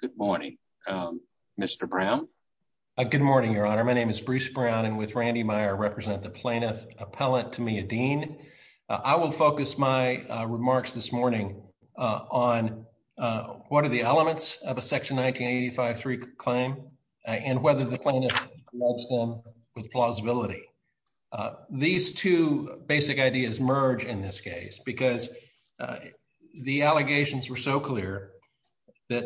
Good morning, your honor. My name is Bruce Brown, and with Randy Meyer, I represent the plaintiff appellant Tommia Dean. I will focus my remarks this morning on what are the elements of a section 1985-3 claim and whether the plaintiff helps them with plausibility. These two basic ideas merge in this case because the allegations were so clear that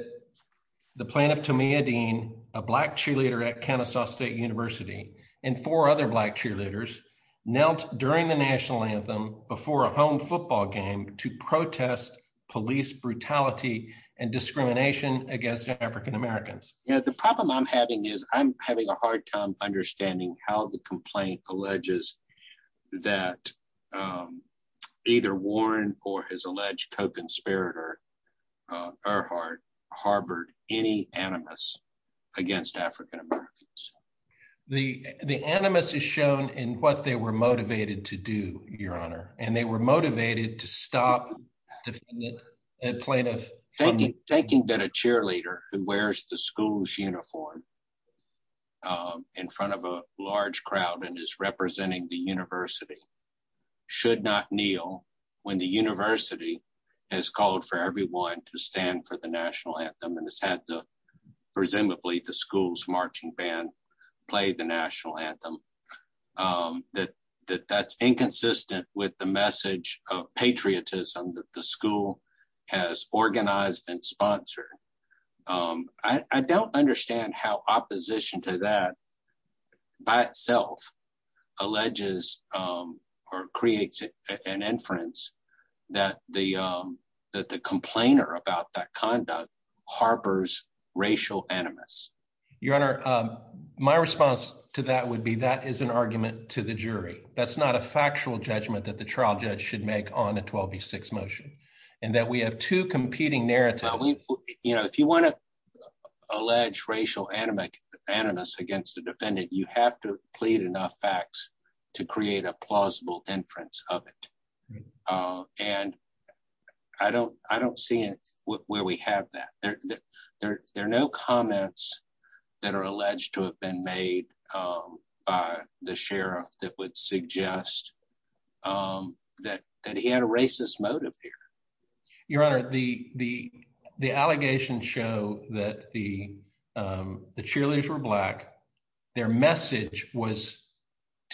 the plaintiff Tommia Dean, a black cheerleader at Kennesaw State University, and four other black cheerleaders knelt during the national anthem before a home football game to protest police brutality and discrimination against African Americans. The problem I'm having is I'm having a hard time understanding how the complaint alleges that either Warren or his alleged co-conspirator Earhart harbored any animus against African Americans. The animus is shown in what they were motivated to do, your honor, and they were motivated to stop the plaintiff. Thinking that a cheerleader who wears the school's uniform in front of a large crowd and is representing the university should not kneel when the university has called for everyone to stand for the national anthem and has had the, presumably, the school's message of patriotism that the school has organized and sponsored. I don't understand how opposition to that by itself alleges or creates an inference that the that the complainer about that conduct harbors racial animus. Your honor, my response to that would be that is an argument to the jury. That's not a factual judgment that the trial judge should make on a 12v6 motion and that we have two competing narratives. You know, if you want to allege racial animus against the defendant, you have to plead enough facts to create a plausible inference of it, and I don't see where we have that. There are no comments that are alleged to have been made by the sheriff, that would suggest that he had a racist motive here. Your honor, the allegations show that the cheerleaders were black, their message was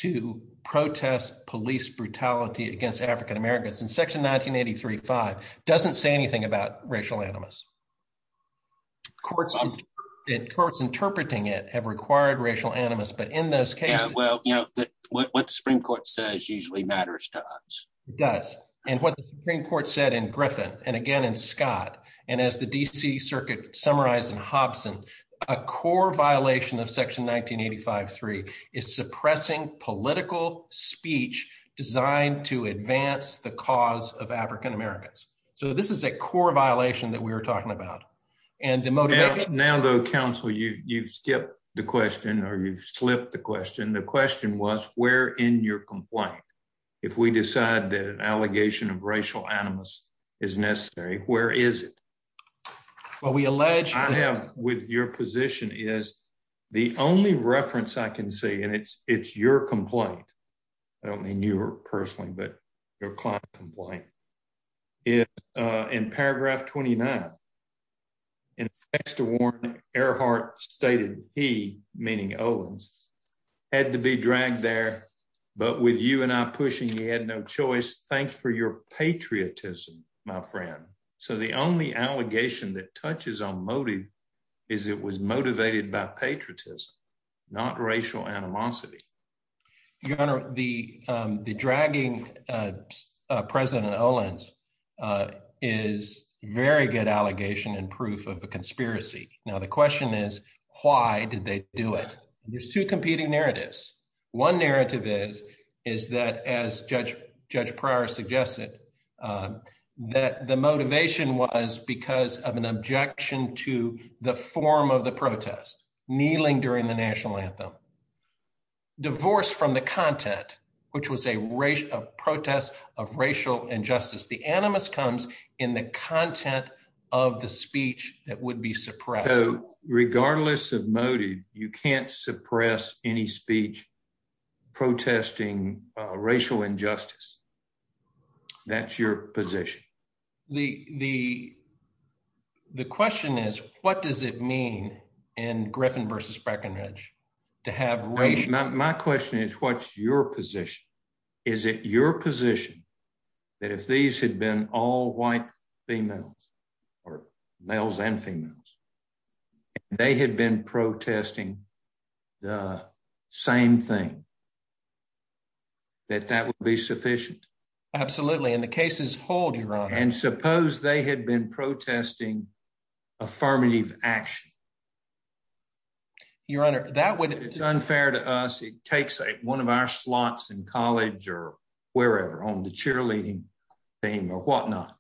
to protest police brutality against African Americans, and section 1983-5 doesn't say anything about racial animus. Courts interpreting it have required racial animus, but in those cases, what the Supreme Court says usually matters to us. It does, and what the Supreme Court said in Griffin, and again in Scott, and as the D.C. Circuit summarized in Hobson, a core violation of section 1985-3 is suppressing political speech designed to advance the cause of African Americans. So this is a core violation that we were talking about, and the motive... Now though, counsel, you've skipped the question, or you've slipped the question. The question was, where in your complaint, if we decide that an allegation of racial animus is necessary, where is it? Well, we allege... I have with your position is, the only reference I can see, and it's your complaint, I don't mean you personally, but your client complaint, is in paragraph 29, and thanks to Warren, Earhart stated he, meaning Owens, had to be dragged there, but with you and I pushing, he had no choice. Thanks for your patriotism, my friend. So the only allegation that touches on motive, is it was motivated by patriotism, not racial animosity. Your honor, the conspiracy. Now the question is, why did they do it? There's two competing narratives. One narrative is that, as Judge Pryor suggested, that the motivation was because of an objection to the form of the protest, kneeling during the national anthem. Divorce from the content, which was a protest of racial injustice. The animus comes in the content of the speech that would be suppressed. So regardless of motive, you can't suppress any speech protesting racial injustice. That's your position. The question is, what does it mean in Griffin v. Breckenridge to have racial... My question is, what's your position? Is it your position that if these had been all white females, or males and females, they had been protesting the same thing, that that would be sufficient? Absolutely, and the cases hold, your honor. And suppose they had been protesting affirmative action. Your honor, that would... It's unfair to us. It takes one of our slots in college, or wherever, on the cheerleading team, or whatnot,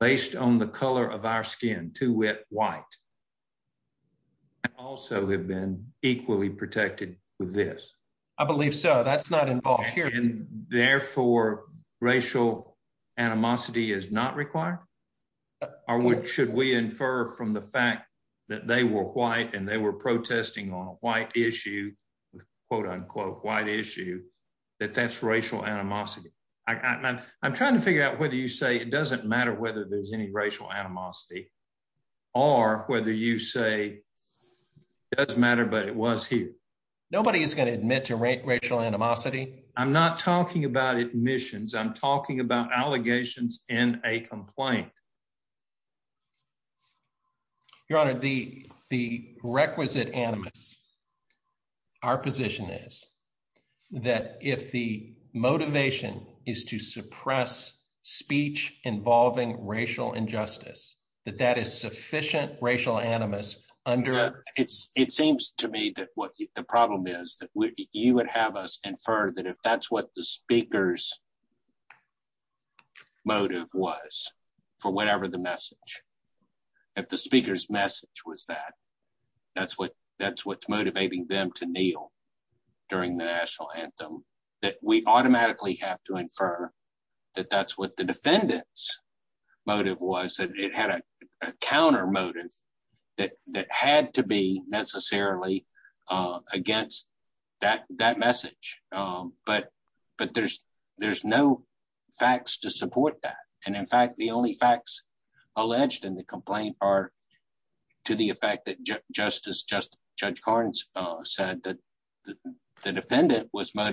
based on the color of our skin, too wet white, and also have been equally protected with this. I believe so. That's not involved here. And therefore, racial animosity is not required? Or should we infer from the fact that they were white, and they were protesting on a white issue, quote unquote, white issue, that that's racial animosity? I'm trying to figure out whether you say it doesn't matter whether there's any racial animosity, or whether you say, does matter, but it was here. Nobody is going to admit to racial animosity. I'm not talking about admissions. I'm talking about allegations in a complaint. Your honor, the requisite animus, our position is that if the motivation is to suppress it seems to me that what the problem is that you would have us infer that if that's what the speaker's motive was, for whatever the message, if the speaker's message was that, that's what that's what's motivating them to kneel during the national anthem, that we automatically have to infer that that's what the defendant's motive was, that it had a counter motive that had to be necessarily against that message. But there's no facts to support that. And in fact, the only facts alleged in the complaint are to the effect that Justice Judge Carnes said that the defendant was Your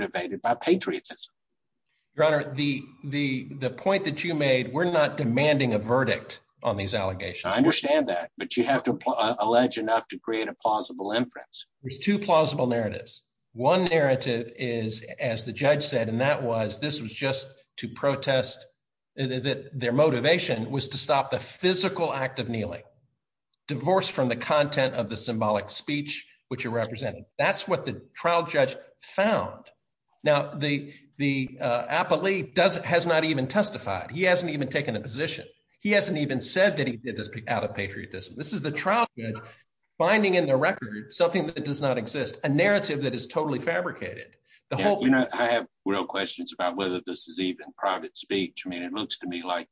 honor, the point that you made, we're not demanding a verdict on these allegations. I understand that, but you have to allege enough to create a plausible inference. There's two plausible narratives. One narrative is, as the judge said, and that was this was just to protest that their motivation was to stop the physical act of kneeling, divorce from the content of the symbolic speech, which you're representing. That's what the trial found. Now, the appellee has not even testified. He hasn't even taken a position. He hasn't even said that he did this out of patriotism. This is the trial finding in the record something that does not exist, a narrative that is totally fabricated. I have real questions about whether this is even private speech. I mean, it looks to me like,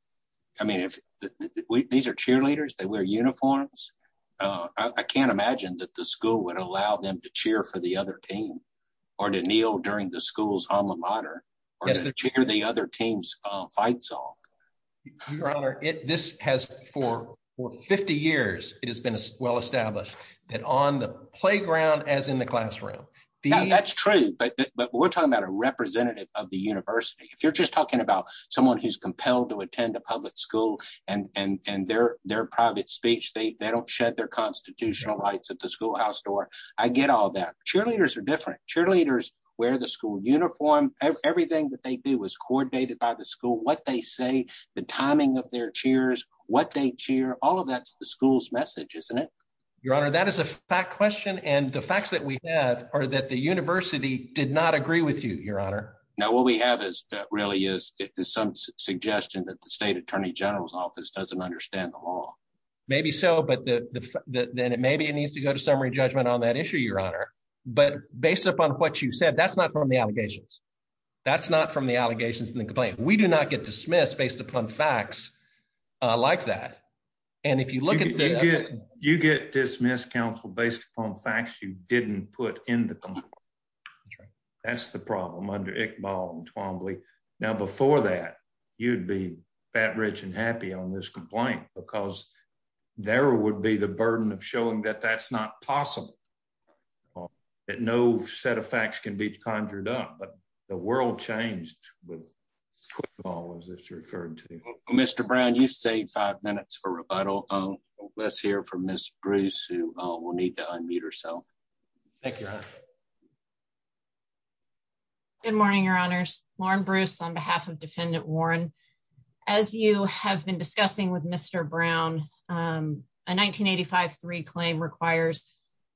I mean, if these are cheerleaders, they wear uniforms. I can't imagine that the school would allow them to cheer for the other team. Or to kneel during the school's alma mater or to hear the other team's fight song. Your honor, this has for 50 years, it has been well established that on the playground as in the classroom. That's true, but we're talking about a representative of the university. If you're just talking about someone who's compelled to attend a public school and their private speech, they don't shed their constitutional rights at the schoolhouse door. I get all that. Cheerleaders are different. Cheerleaders wear the school uniform. Everything that they do is coordinated by the school. What they say, the timing of their cheers, what they cheer, all of that's the school's message, isn't it? Your honor, that is a fact question. And the facts that we have are that the university did not agree with you, your honor. Now, what we have is really is some suggestion that the state attorney general's office doesn't understand the law. Maybe so, but then maybe it needs to go to summary judgment on that issue, but based upon what you said, that's not from the allegations. That's not from the allegations in the complaint. We do not get dismissed based upon facts like that. You get dismissed, counsel, based upon facts you didn't put in the complaint. That's the problem under Iqbal and Twombly. Now, before that, you'd be fat rich and happy on this complaint because there would be the burden of showing that that's not possible, that no set of facts can be conjured up, but the world changed with football, as it's referred to. Mr. Brown, you saved five minutes for rebuttal. Let's hear from Ms. Bruce, who will need to unmute herself. Thank you, your honor. Good morning, your honors. Lauren Bruce on behalf of Defendant Warren. As you have been discussing with Mr. Brown, a 1985-3 claim requires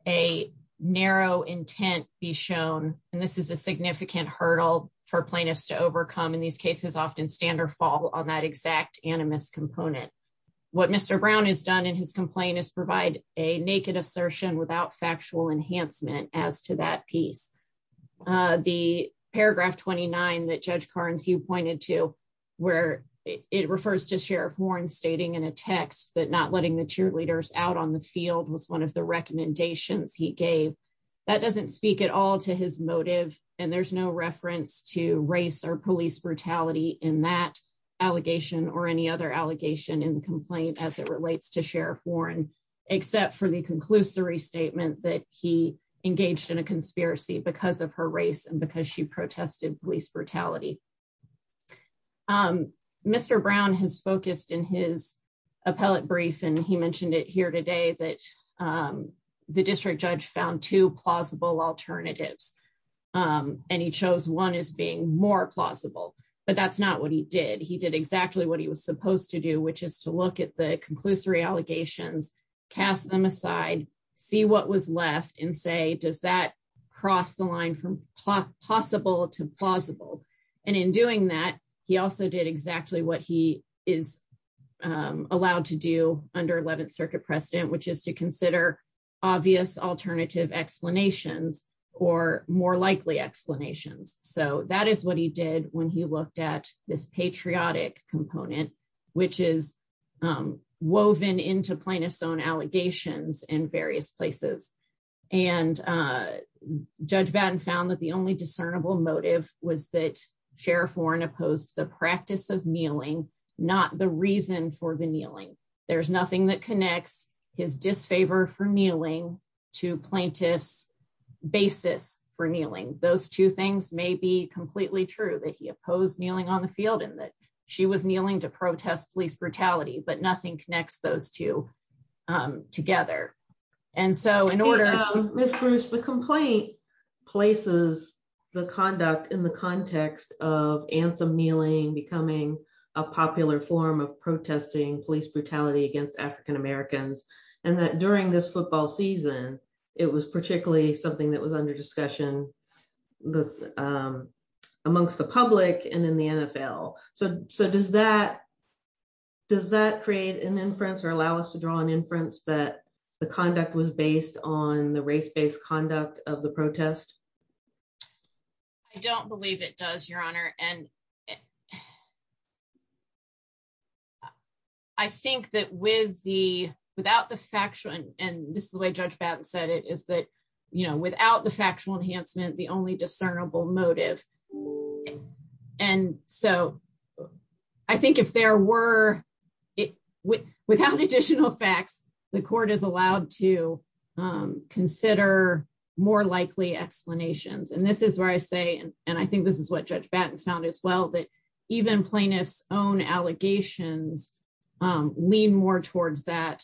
a narrow intent be shown, and this is a significant hurdle for plaintiffs to overcome. In these cases, often stand or fall on that exact animus component. What Mr. Brown has done in his complaint is provide a naked assertion without factual enhancement as to that piece. The paragraph 29 that Judge Carnes, you pointed to, where it refers to Sheriff Warren stating in a text that not letting the cheerleaders out on the field was one of the recommendations he gave. That doesn't speak at all to his motive, and there's no reference to race or police brutality in that allegation or any other allegation in the complaint as it relates to Sheriff Warren, except for the conclusory statement that he engaged in a conspiracy because of her race and because she protested police brutality. Mr. Brown has focused in his appellate brief, and he mentioned it here today, that the district judge found two plausible alternatives, and he chose one as being more plausible, but that's not what he did. He did exactly what he was supposed to do, which is to look at the conclusory allegations, cast them aside, see what was left, and say, does that cross the line from possible to plausible? In doing that, he also did exactly what he is allowed to do under 11th Circuit precedent, which is to consider obvious alternative explanations or more likely explanations. That is what he did when he looked at this patriotic component, which is woven into plaintiff's own allegations in various places. Judge Batten found that the only discernible motive was that Sheriff Warren opposed the practice of kneeling, not the reason for the kneeling. There's nothing that connects his disfavor for kneeling to plaintiff's basis for kneeling. Those two things may be completely true, that he opposed kneeling on the field and that she was kneeling to protest police brutality, but nothing connects those two together. Ms. Bruce, the complaint places the conduct in the context of anthem kneeling becoming a popular form of protesting police brutality against African Americans, and that during this football season, it was particularly something that was under discussion amongst the public and in the NFL. Does that create an inference or allow us to draw an inference that the conduct was based on the race-based conduct of the protest? I don't believe it does, Your Honor. I think that without the factual, and this is the way Judge Batten found it, without additional facts, the court is allowed to consider more likely explanations. This is where I say, and I think this is what Judge Batten found as well, that even plaintiff's own allegations lean more towards that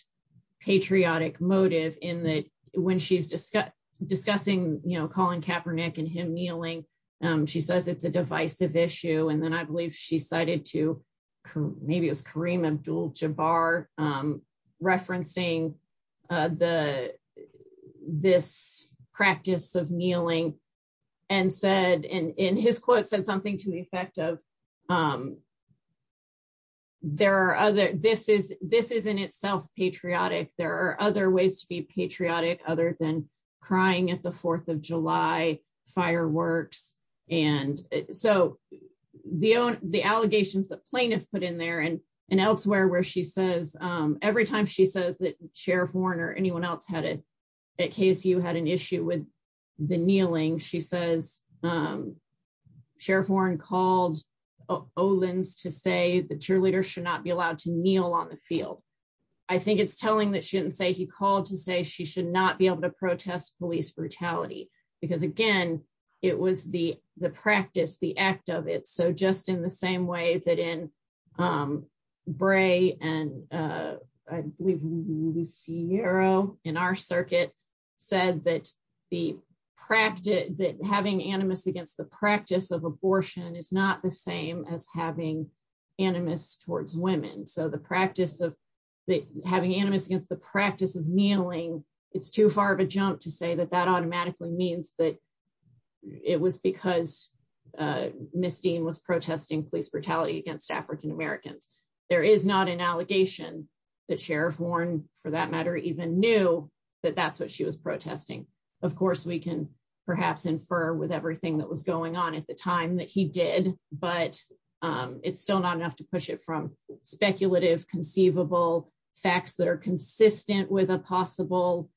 patriotic motive when she's discussing Colin Kaepernick and him kneeling. She says it's a divisive issue, and then I believe she cited to, maybe it was Kareem Abdul-Jabbar, referencing this practice of kneeling and said, in his quote, said something to the effect of, this is in itself patriotic. There are other to be patriotic other than crying at the 4th of July fireworks. So the allegations that plaintiff put in there and elsewhere where she says, every time she says that Sheriff Warren or anyone else at KSU had an issue with the kneeling, she says Sheriff Warren called Olin's to say the cheerleader should not be allowed to kneel on the field. I think it's telling that she didn't say he called to say she should not be able to protest police brutality, because again, it was the practice, the act of it. So just in the same way that in Bray and I believe Lucero in our circuit said that the practice, that having animus against the practice of abortion is not the same as having animus towards women. So the practice of having animus against the practice of kneeling, it's too far of a jump to say that that automatically means that it was because Miss Dean was protesting police brutality against African Americans. There is not an allegation that Sheriff Warren, for that matter, even knew that that's what she was protesting. Of course, we can perhaps infer with everything that was going on at the time that he did, but it's still not enough to push it from speculative, conceivable facts that are consistent with a possible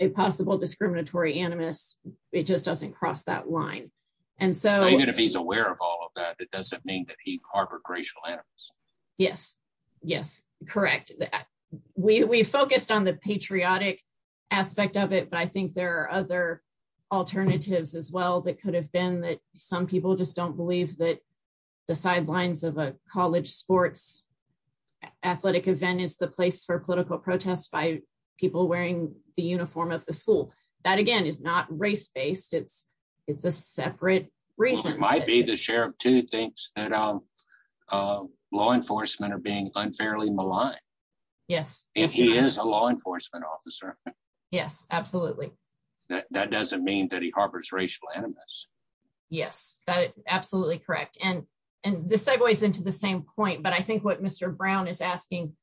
discriminatory animus. It just doesn't cross that line. Even if he's aware of all of that, it doesn't mean that he harbored racial animus. Yes, yes, correct. We focused on the patriotic aspect of it, but I think there are other alternatives as well that could have been that some people just don't believe that the sidelines of a college sports athletic event is the place for political protest by people wearing the uniform of the school. That, again, is not race-based. It's a separate reason. It might be the sheriff too thinks that law enforcement are being unfairly maligned. Yes. If he is a law enforcement officer. Yes, absolutely. That doesn't mean that he harbors racial animus. Yes, that is absolutely correct. And this segues into the same point, but I think what Mr. Brown is asking,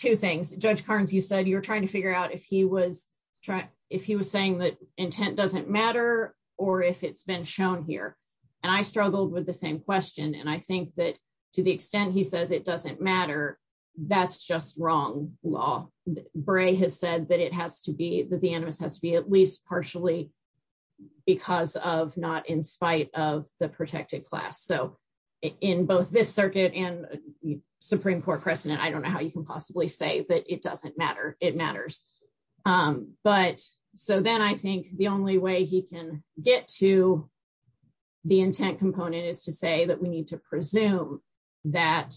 two things. Judge Carnes, you said you were trying to figure out if he was saying that intent doesn't matter or if it's been shown here, and I struggled with the same question, and I think that to the extent he says it doesn't matter, that's just wrong law. Bray has said that it has to be, that the animus has to be at least partially because of not in spite of the protected class. So in both this circuit and Supreme Court precedent, I don't know how you can possibly say that it doesn't matter. It matters. But so then I think the only way he can get to the intent component is to say that we need to presume that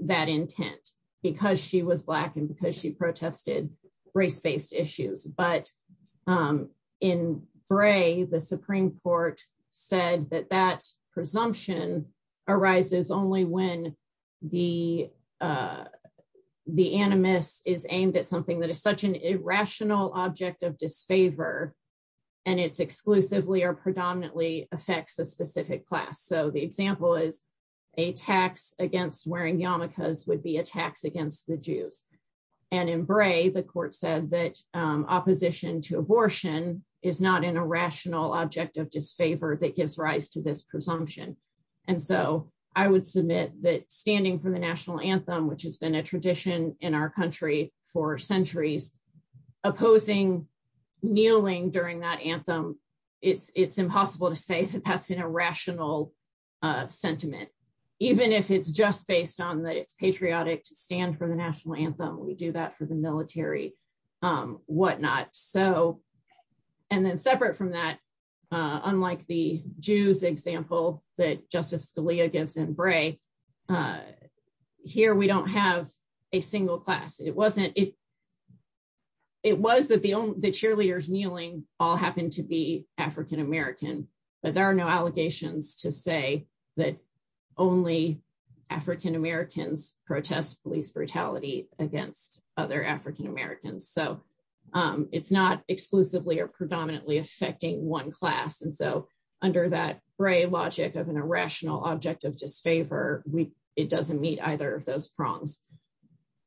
intent because she was Black and because she protested race-based issues. But in Bray, the Supreme Court said that that presumption arises only when the animus is aimed at something that is such an irrational object of disfavor and it's exclusively or a tax against wearing yarmulkes would be a tax against the Jews. And in Bray, the court said that opposition to abortion is not an irrational object of disfavor that gives rise to this presumption. And so I would submit that standing for the national anthem, which has been a tradition in our country for centuries, opposing kneeling during that anthem, it's impossible to say that that's an irrational sentiment, even if it's just based on that it's patriotic to stand for the national anthem. We do that for the military, whatnot. So and then separate from that, unlike the Jews example that Justice Scalia gives in Bray, here we don't have a single class. It wasn't, it was that the cheerleaders kneeling all happened to be African-American, but there are no allegations to say that only African-Americans protest police brutality against other African-Americans. So it's not exclusively or predominantly affecting one class. And so under that Bray logic of an irrational object of disfavor, it doesn't meet either of those prongs.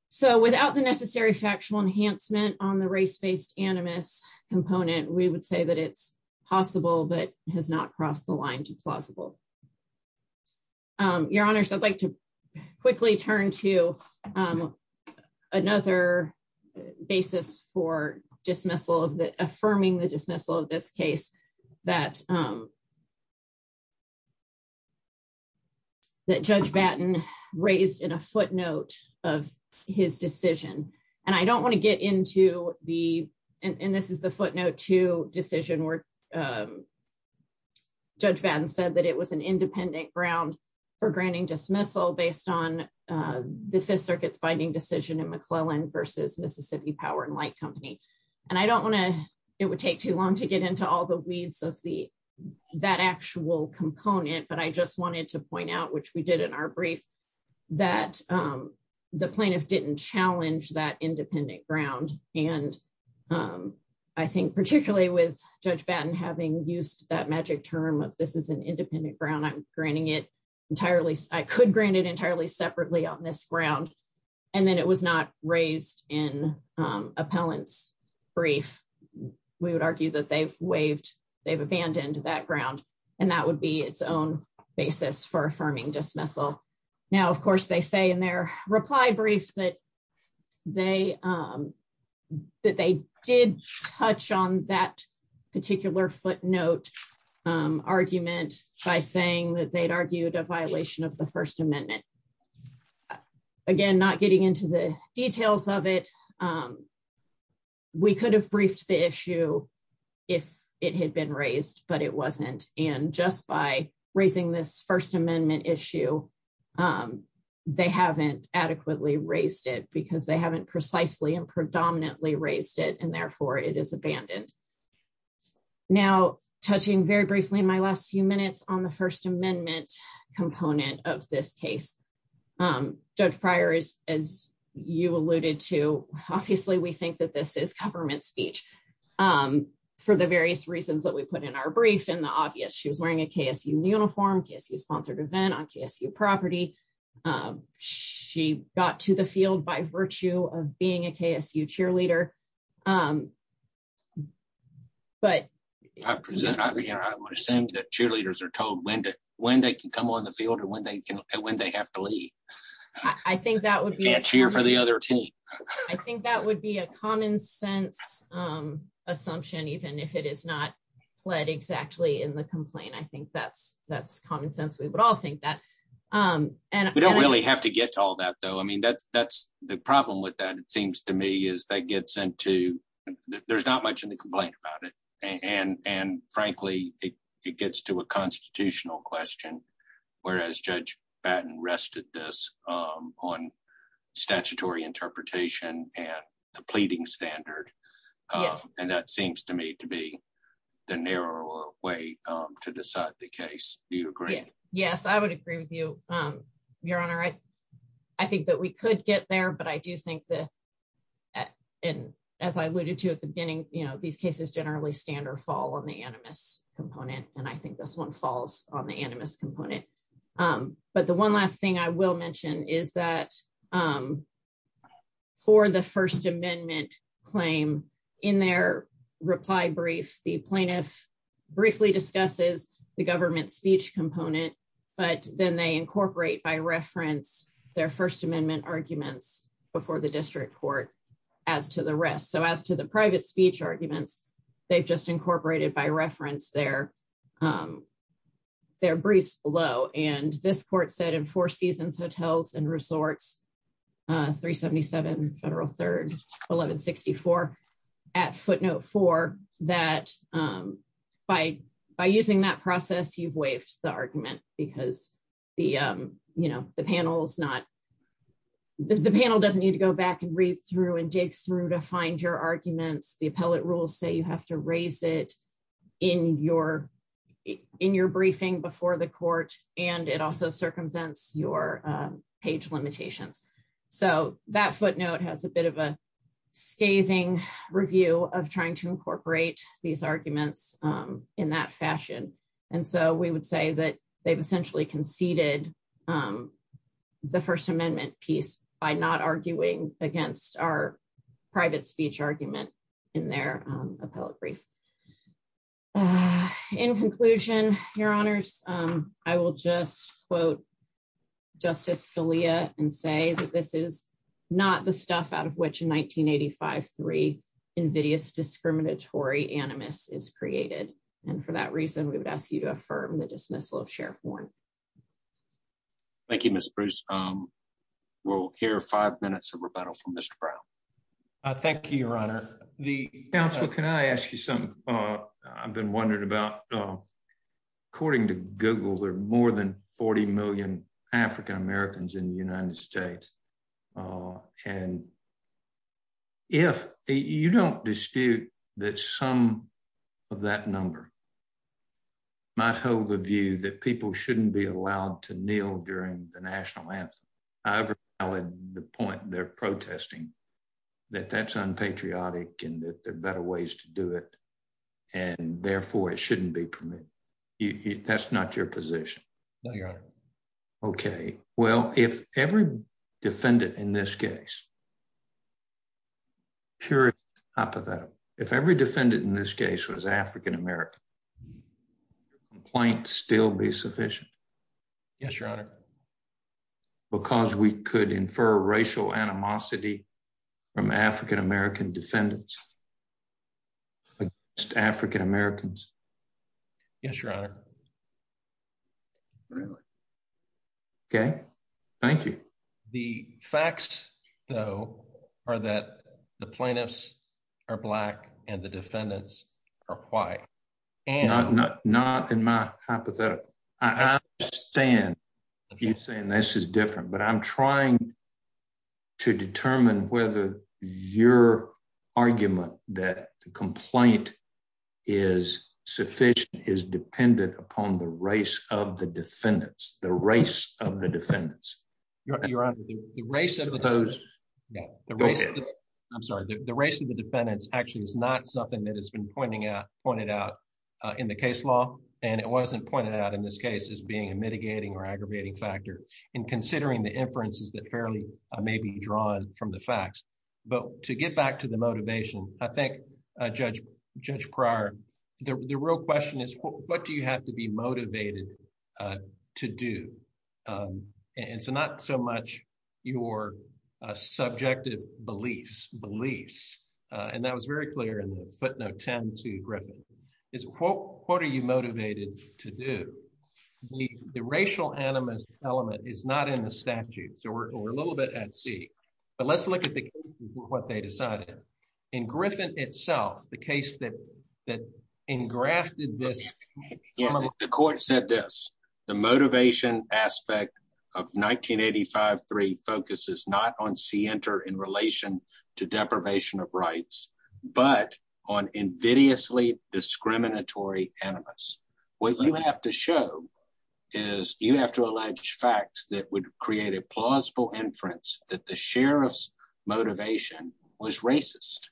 So without the necessary factual enhancement on the race-based animus component, we would say that it's possible, but has not crossed the line to plausible. Your honors, I'd like to quickly turn to another basis for dismissal of the, affirming the dismissal of this case that Judge Batten raised in a footnote of his decision. And I don't want to get into the, and this is the footnote to decision where Judge Batten said that it was an independent ground for granting dismissal based on the Fifth Circuit's binding decision in McClellan versus Mississippi Power and Light Company. And I don't want to, it would take too long to get into all the weeds of the, that actual component, but I just wanted to point out, which we did in our brief, that the plaintiff didn't challenge that independent ground. And I think particularly with Judge Batten having used that magic term of this is an independent ground, I'm granting it entirely, I could grant it entirely separately on this ground. And then it was not raised in appellant's brief. We would argue that they've waived, they've abandoned that ground, and that would be its own basis for affirming dismissal. Now, of course, they say in their reply brief that they did touch on that particular footnote argument by saying that they'd argued a violation of the First Amendment. Again, not getting into the details of it. We could have briefed the issue if it had been raised, but it wasn't. And just by raising this First Amendment issue, they haven't adequately raised it because they haven't precisely and predominantly raised it, and therefore it is abandoned. Now, touching very briefly in my last few minutes on the First Amendment component of this case, Judge Pryor, as you alluded to, obviously we think that this is government speech for the various reasons that we put in our brief and the obvious. She was wearing a KSU uniform, KSU-sponsored event on KSU property. She got to the field by virtue of being a KSU cheerleader. But- I present, I understand that cheerleaders are told when they can come on the field and when they have to leave. I think that would be- And cheer for the other team. I think that would be a common sense assumption, even if it is not pled exactly in the complaint. I think that's common sense. We would all think that. We don't really have to get to all that, though. I mean, that's the problem with that, it seems to me, is that gets into- there's not much in the complaint about it. And frankly, it gets to a on statutory interpretation and the pleading standard. And that seems to me to be the narrower way to decide the case. Do you agree? Yes, I would agree with you, Your Honor. I think that we could get there, but I do think that- and as I alluded to at the beginning, these cases generally stand or fall on the animus component. And I think this one falls on the animus component. But the one last thing I will mention is that for the First Amendment claim, in their reply brief, the plaintiff briefly discusses the government speech component, but then they incorporate by reference their First Amendment arguments before the district court as to the rest. So as to the private speech arguments, they've just incorporated by reference their briefs below. And this court said in Four Seasons Hotels and Resorts, 377 Federal 3rd, 1164, at footnote four, that by using that process, you've waived the argument because the panel doesn't need to go back and read through and you have to raise it in your briefing before the court, and it also circumvents your page limitations. So that footnote has a bit of a scathing review of trying to incorporate these arguments in that fashion. And so we would say that they've essentially conceded on the First Amendment piece by not arguing against our private speech argument in their appellate brief. In conclusion, Your Honors, I will just quote Justice Scalia and say that this is not the stuff out of which in 1985, three invidious discriminatory animus is created. And for that reason, we would ask you to affirm the dismissal of Sheriff Warren. Thank you, Mr. Bruce. We'll hear five minutes of rebuttal from Mr. Brown. Thank you, Your Honor. The counsel, can I ask you something? I've been wondering about, according to Google, there are more than 40 million African Americans in the United States. And if you don't dispute that some of that number might hold the view that people shouldn't be during the national anthem, however valid the point they're protesting, that that's unpatriotic, and that there are better ways to do it. And therefore, it shouldn't be permitted. That's not your position? No, Your Honor. Okay. Well, if every defendant in this case, pure hypothetical, if every defendant in this case was African American, would your complaint still be sufficient? Yes, Your Honor. Because we could infer racial animosity from African American defendants against African Americans? Yes, Your Honor. Okay. Thank you. The facts, though, are that the plaintiffs are Black and the defendants are white. Not in my hypothetical. I understand if you're saying this is different, but I'm trying to determine whether your argument that the complaint is sufficient is dependent upon the race of the defendants, the race of the defendants. Your Honor, the race of the defendants actually is not something that has been pointed out in the case law, and it wasn't pointed out in this case as being a mitigating or aggravating factor in considering the inferences that fairly may be drawn from the facts. But to get back to the motivation, I think, Judge Pryor, the real question is, what do you have to be motivated to do? And so not so much your very clear in the footnote 10 to Griffin, is what are you motivated to do? The racial animus element is not in the statute, so we're a little bit at sea. But let's look at what they decided. In Griffin itself, the case that engrafted this... The court said this, the motivation aspect of but on invidiously discriminatory animus. What you have to show is you have to allege facts that would create a plausible inference that the sheriff's motivation was racist.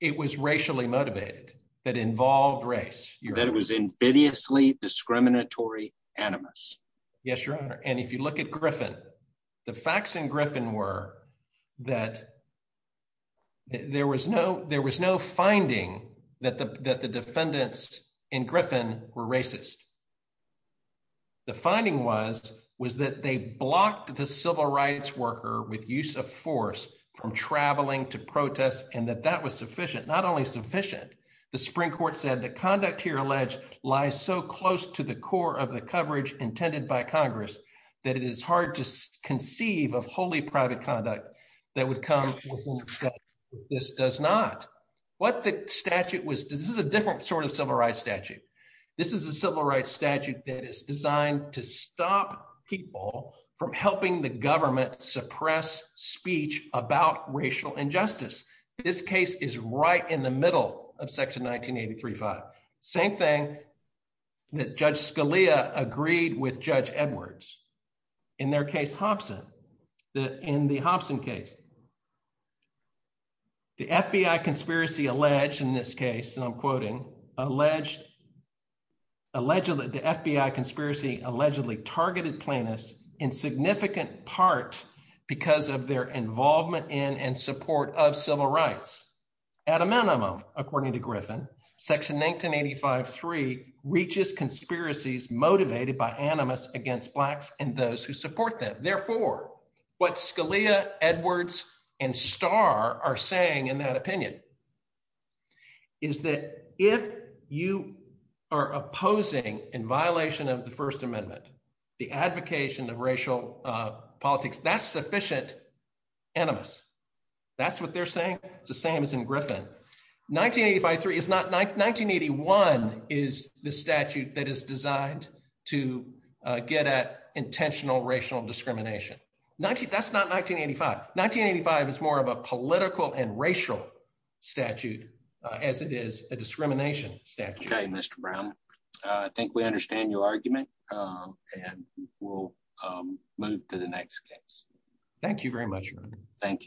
It was racially motivated that involved race. That it was invidiously discriminatory animus. Yes, Your Honor, and if you look at Griffin, the facts in Griffin were that there was no finding that the defendants in Griffin were racist. The finding was that they blocked the civil rights worker with use of force from traveling to protest and that that was sufficient. Not only sufficient, the Supreme Court was so close to the core of the coverage intended by Congress that it is hard to conceive of wholly private conduct that would come with this does not. What the statute was, this is a different sort of civil rights statute. This is a civil rights statute that is designed to stop people from helping the government suppress speech about racial injustice. This case is right in the that Judge Scalia agreed with Judge Edwards in their case Hobson. In the Hobson case, the FBI conspiracy alleged in this case, and I'm quoting, alleged that the FBI conspiracy allegedly targeted plaintiffs in significant part because of their involvement in and support of civil rights. At a minimum, according to Griffin, section 1985-3 reaches conspiracies motivated by animus against Blacks and those who support them. Therefore, what Scalia, Edwards, and Starr are saying in that opinion is that if you are opposing, in violation of the First Amendment, the advocation of racial politics, that's sufficient animus. That's what they're saying. It's the same as in Griffin. 1981 is the statute that is designed to get at intentional racial discrimination. That's not 1985. 1985 is more of a political and racial statute as it is a discrimination statute. Okay, Mr. Brown. I think we understand your argument, and we'll move to the next case. Thank you very much. Thank you.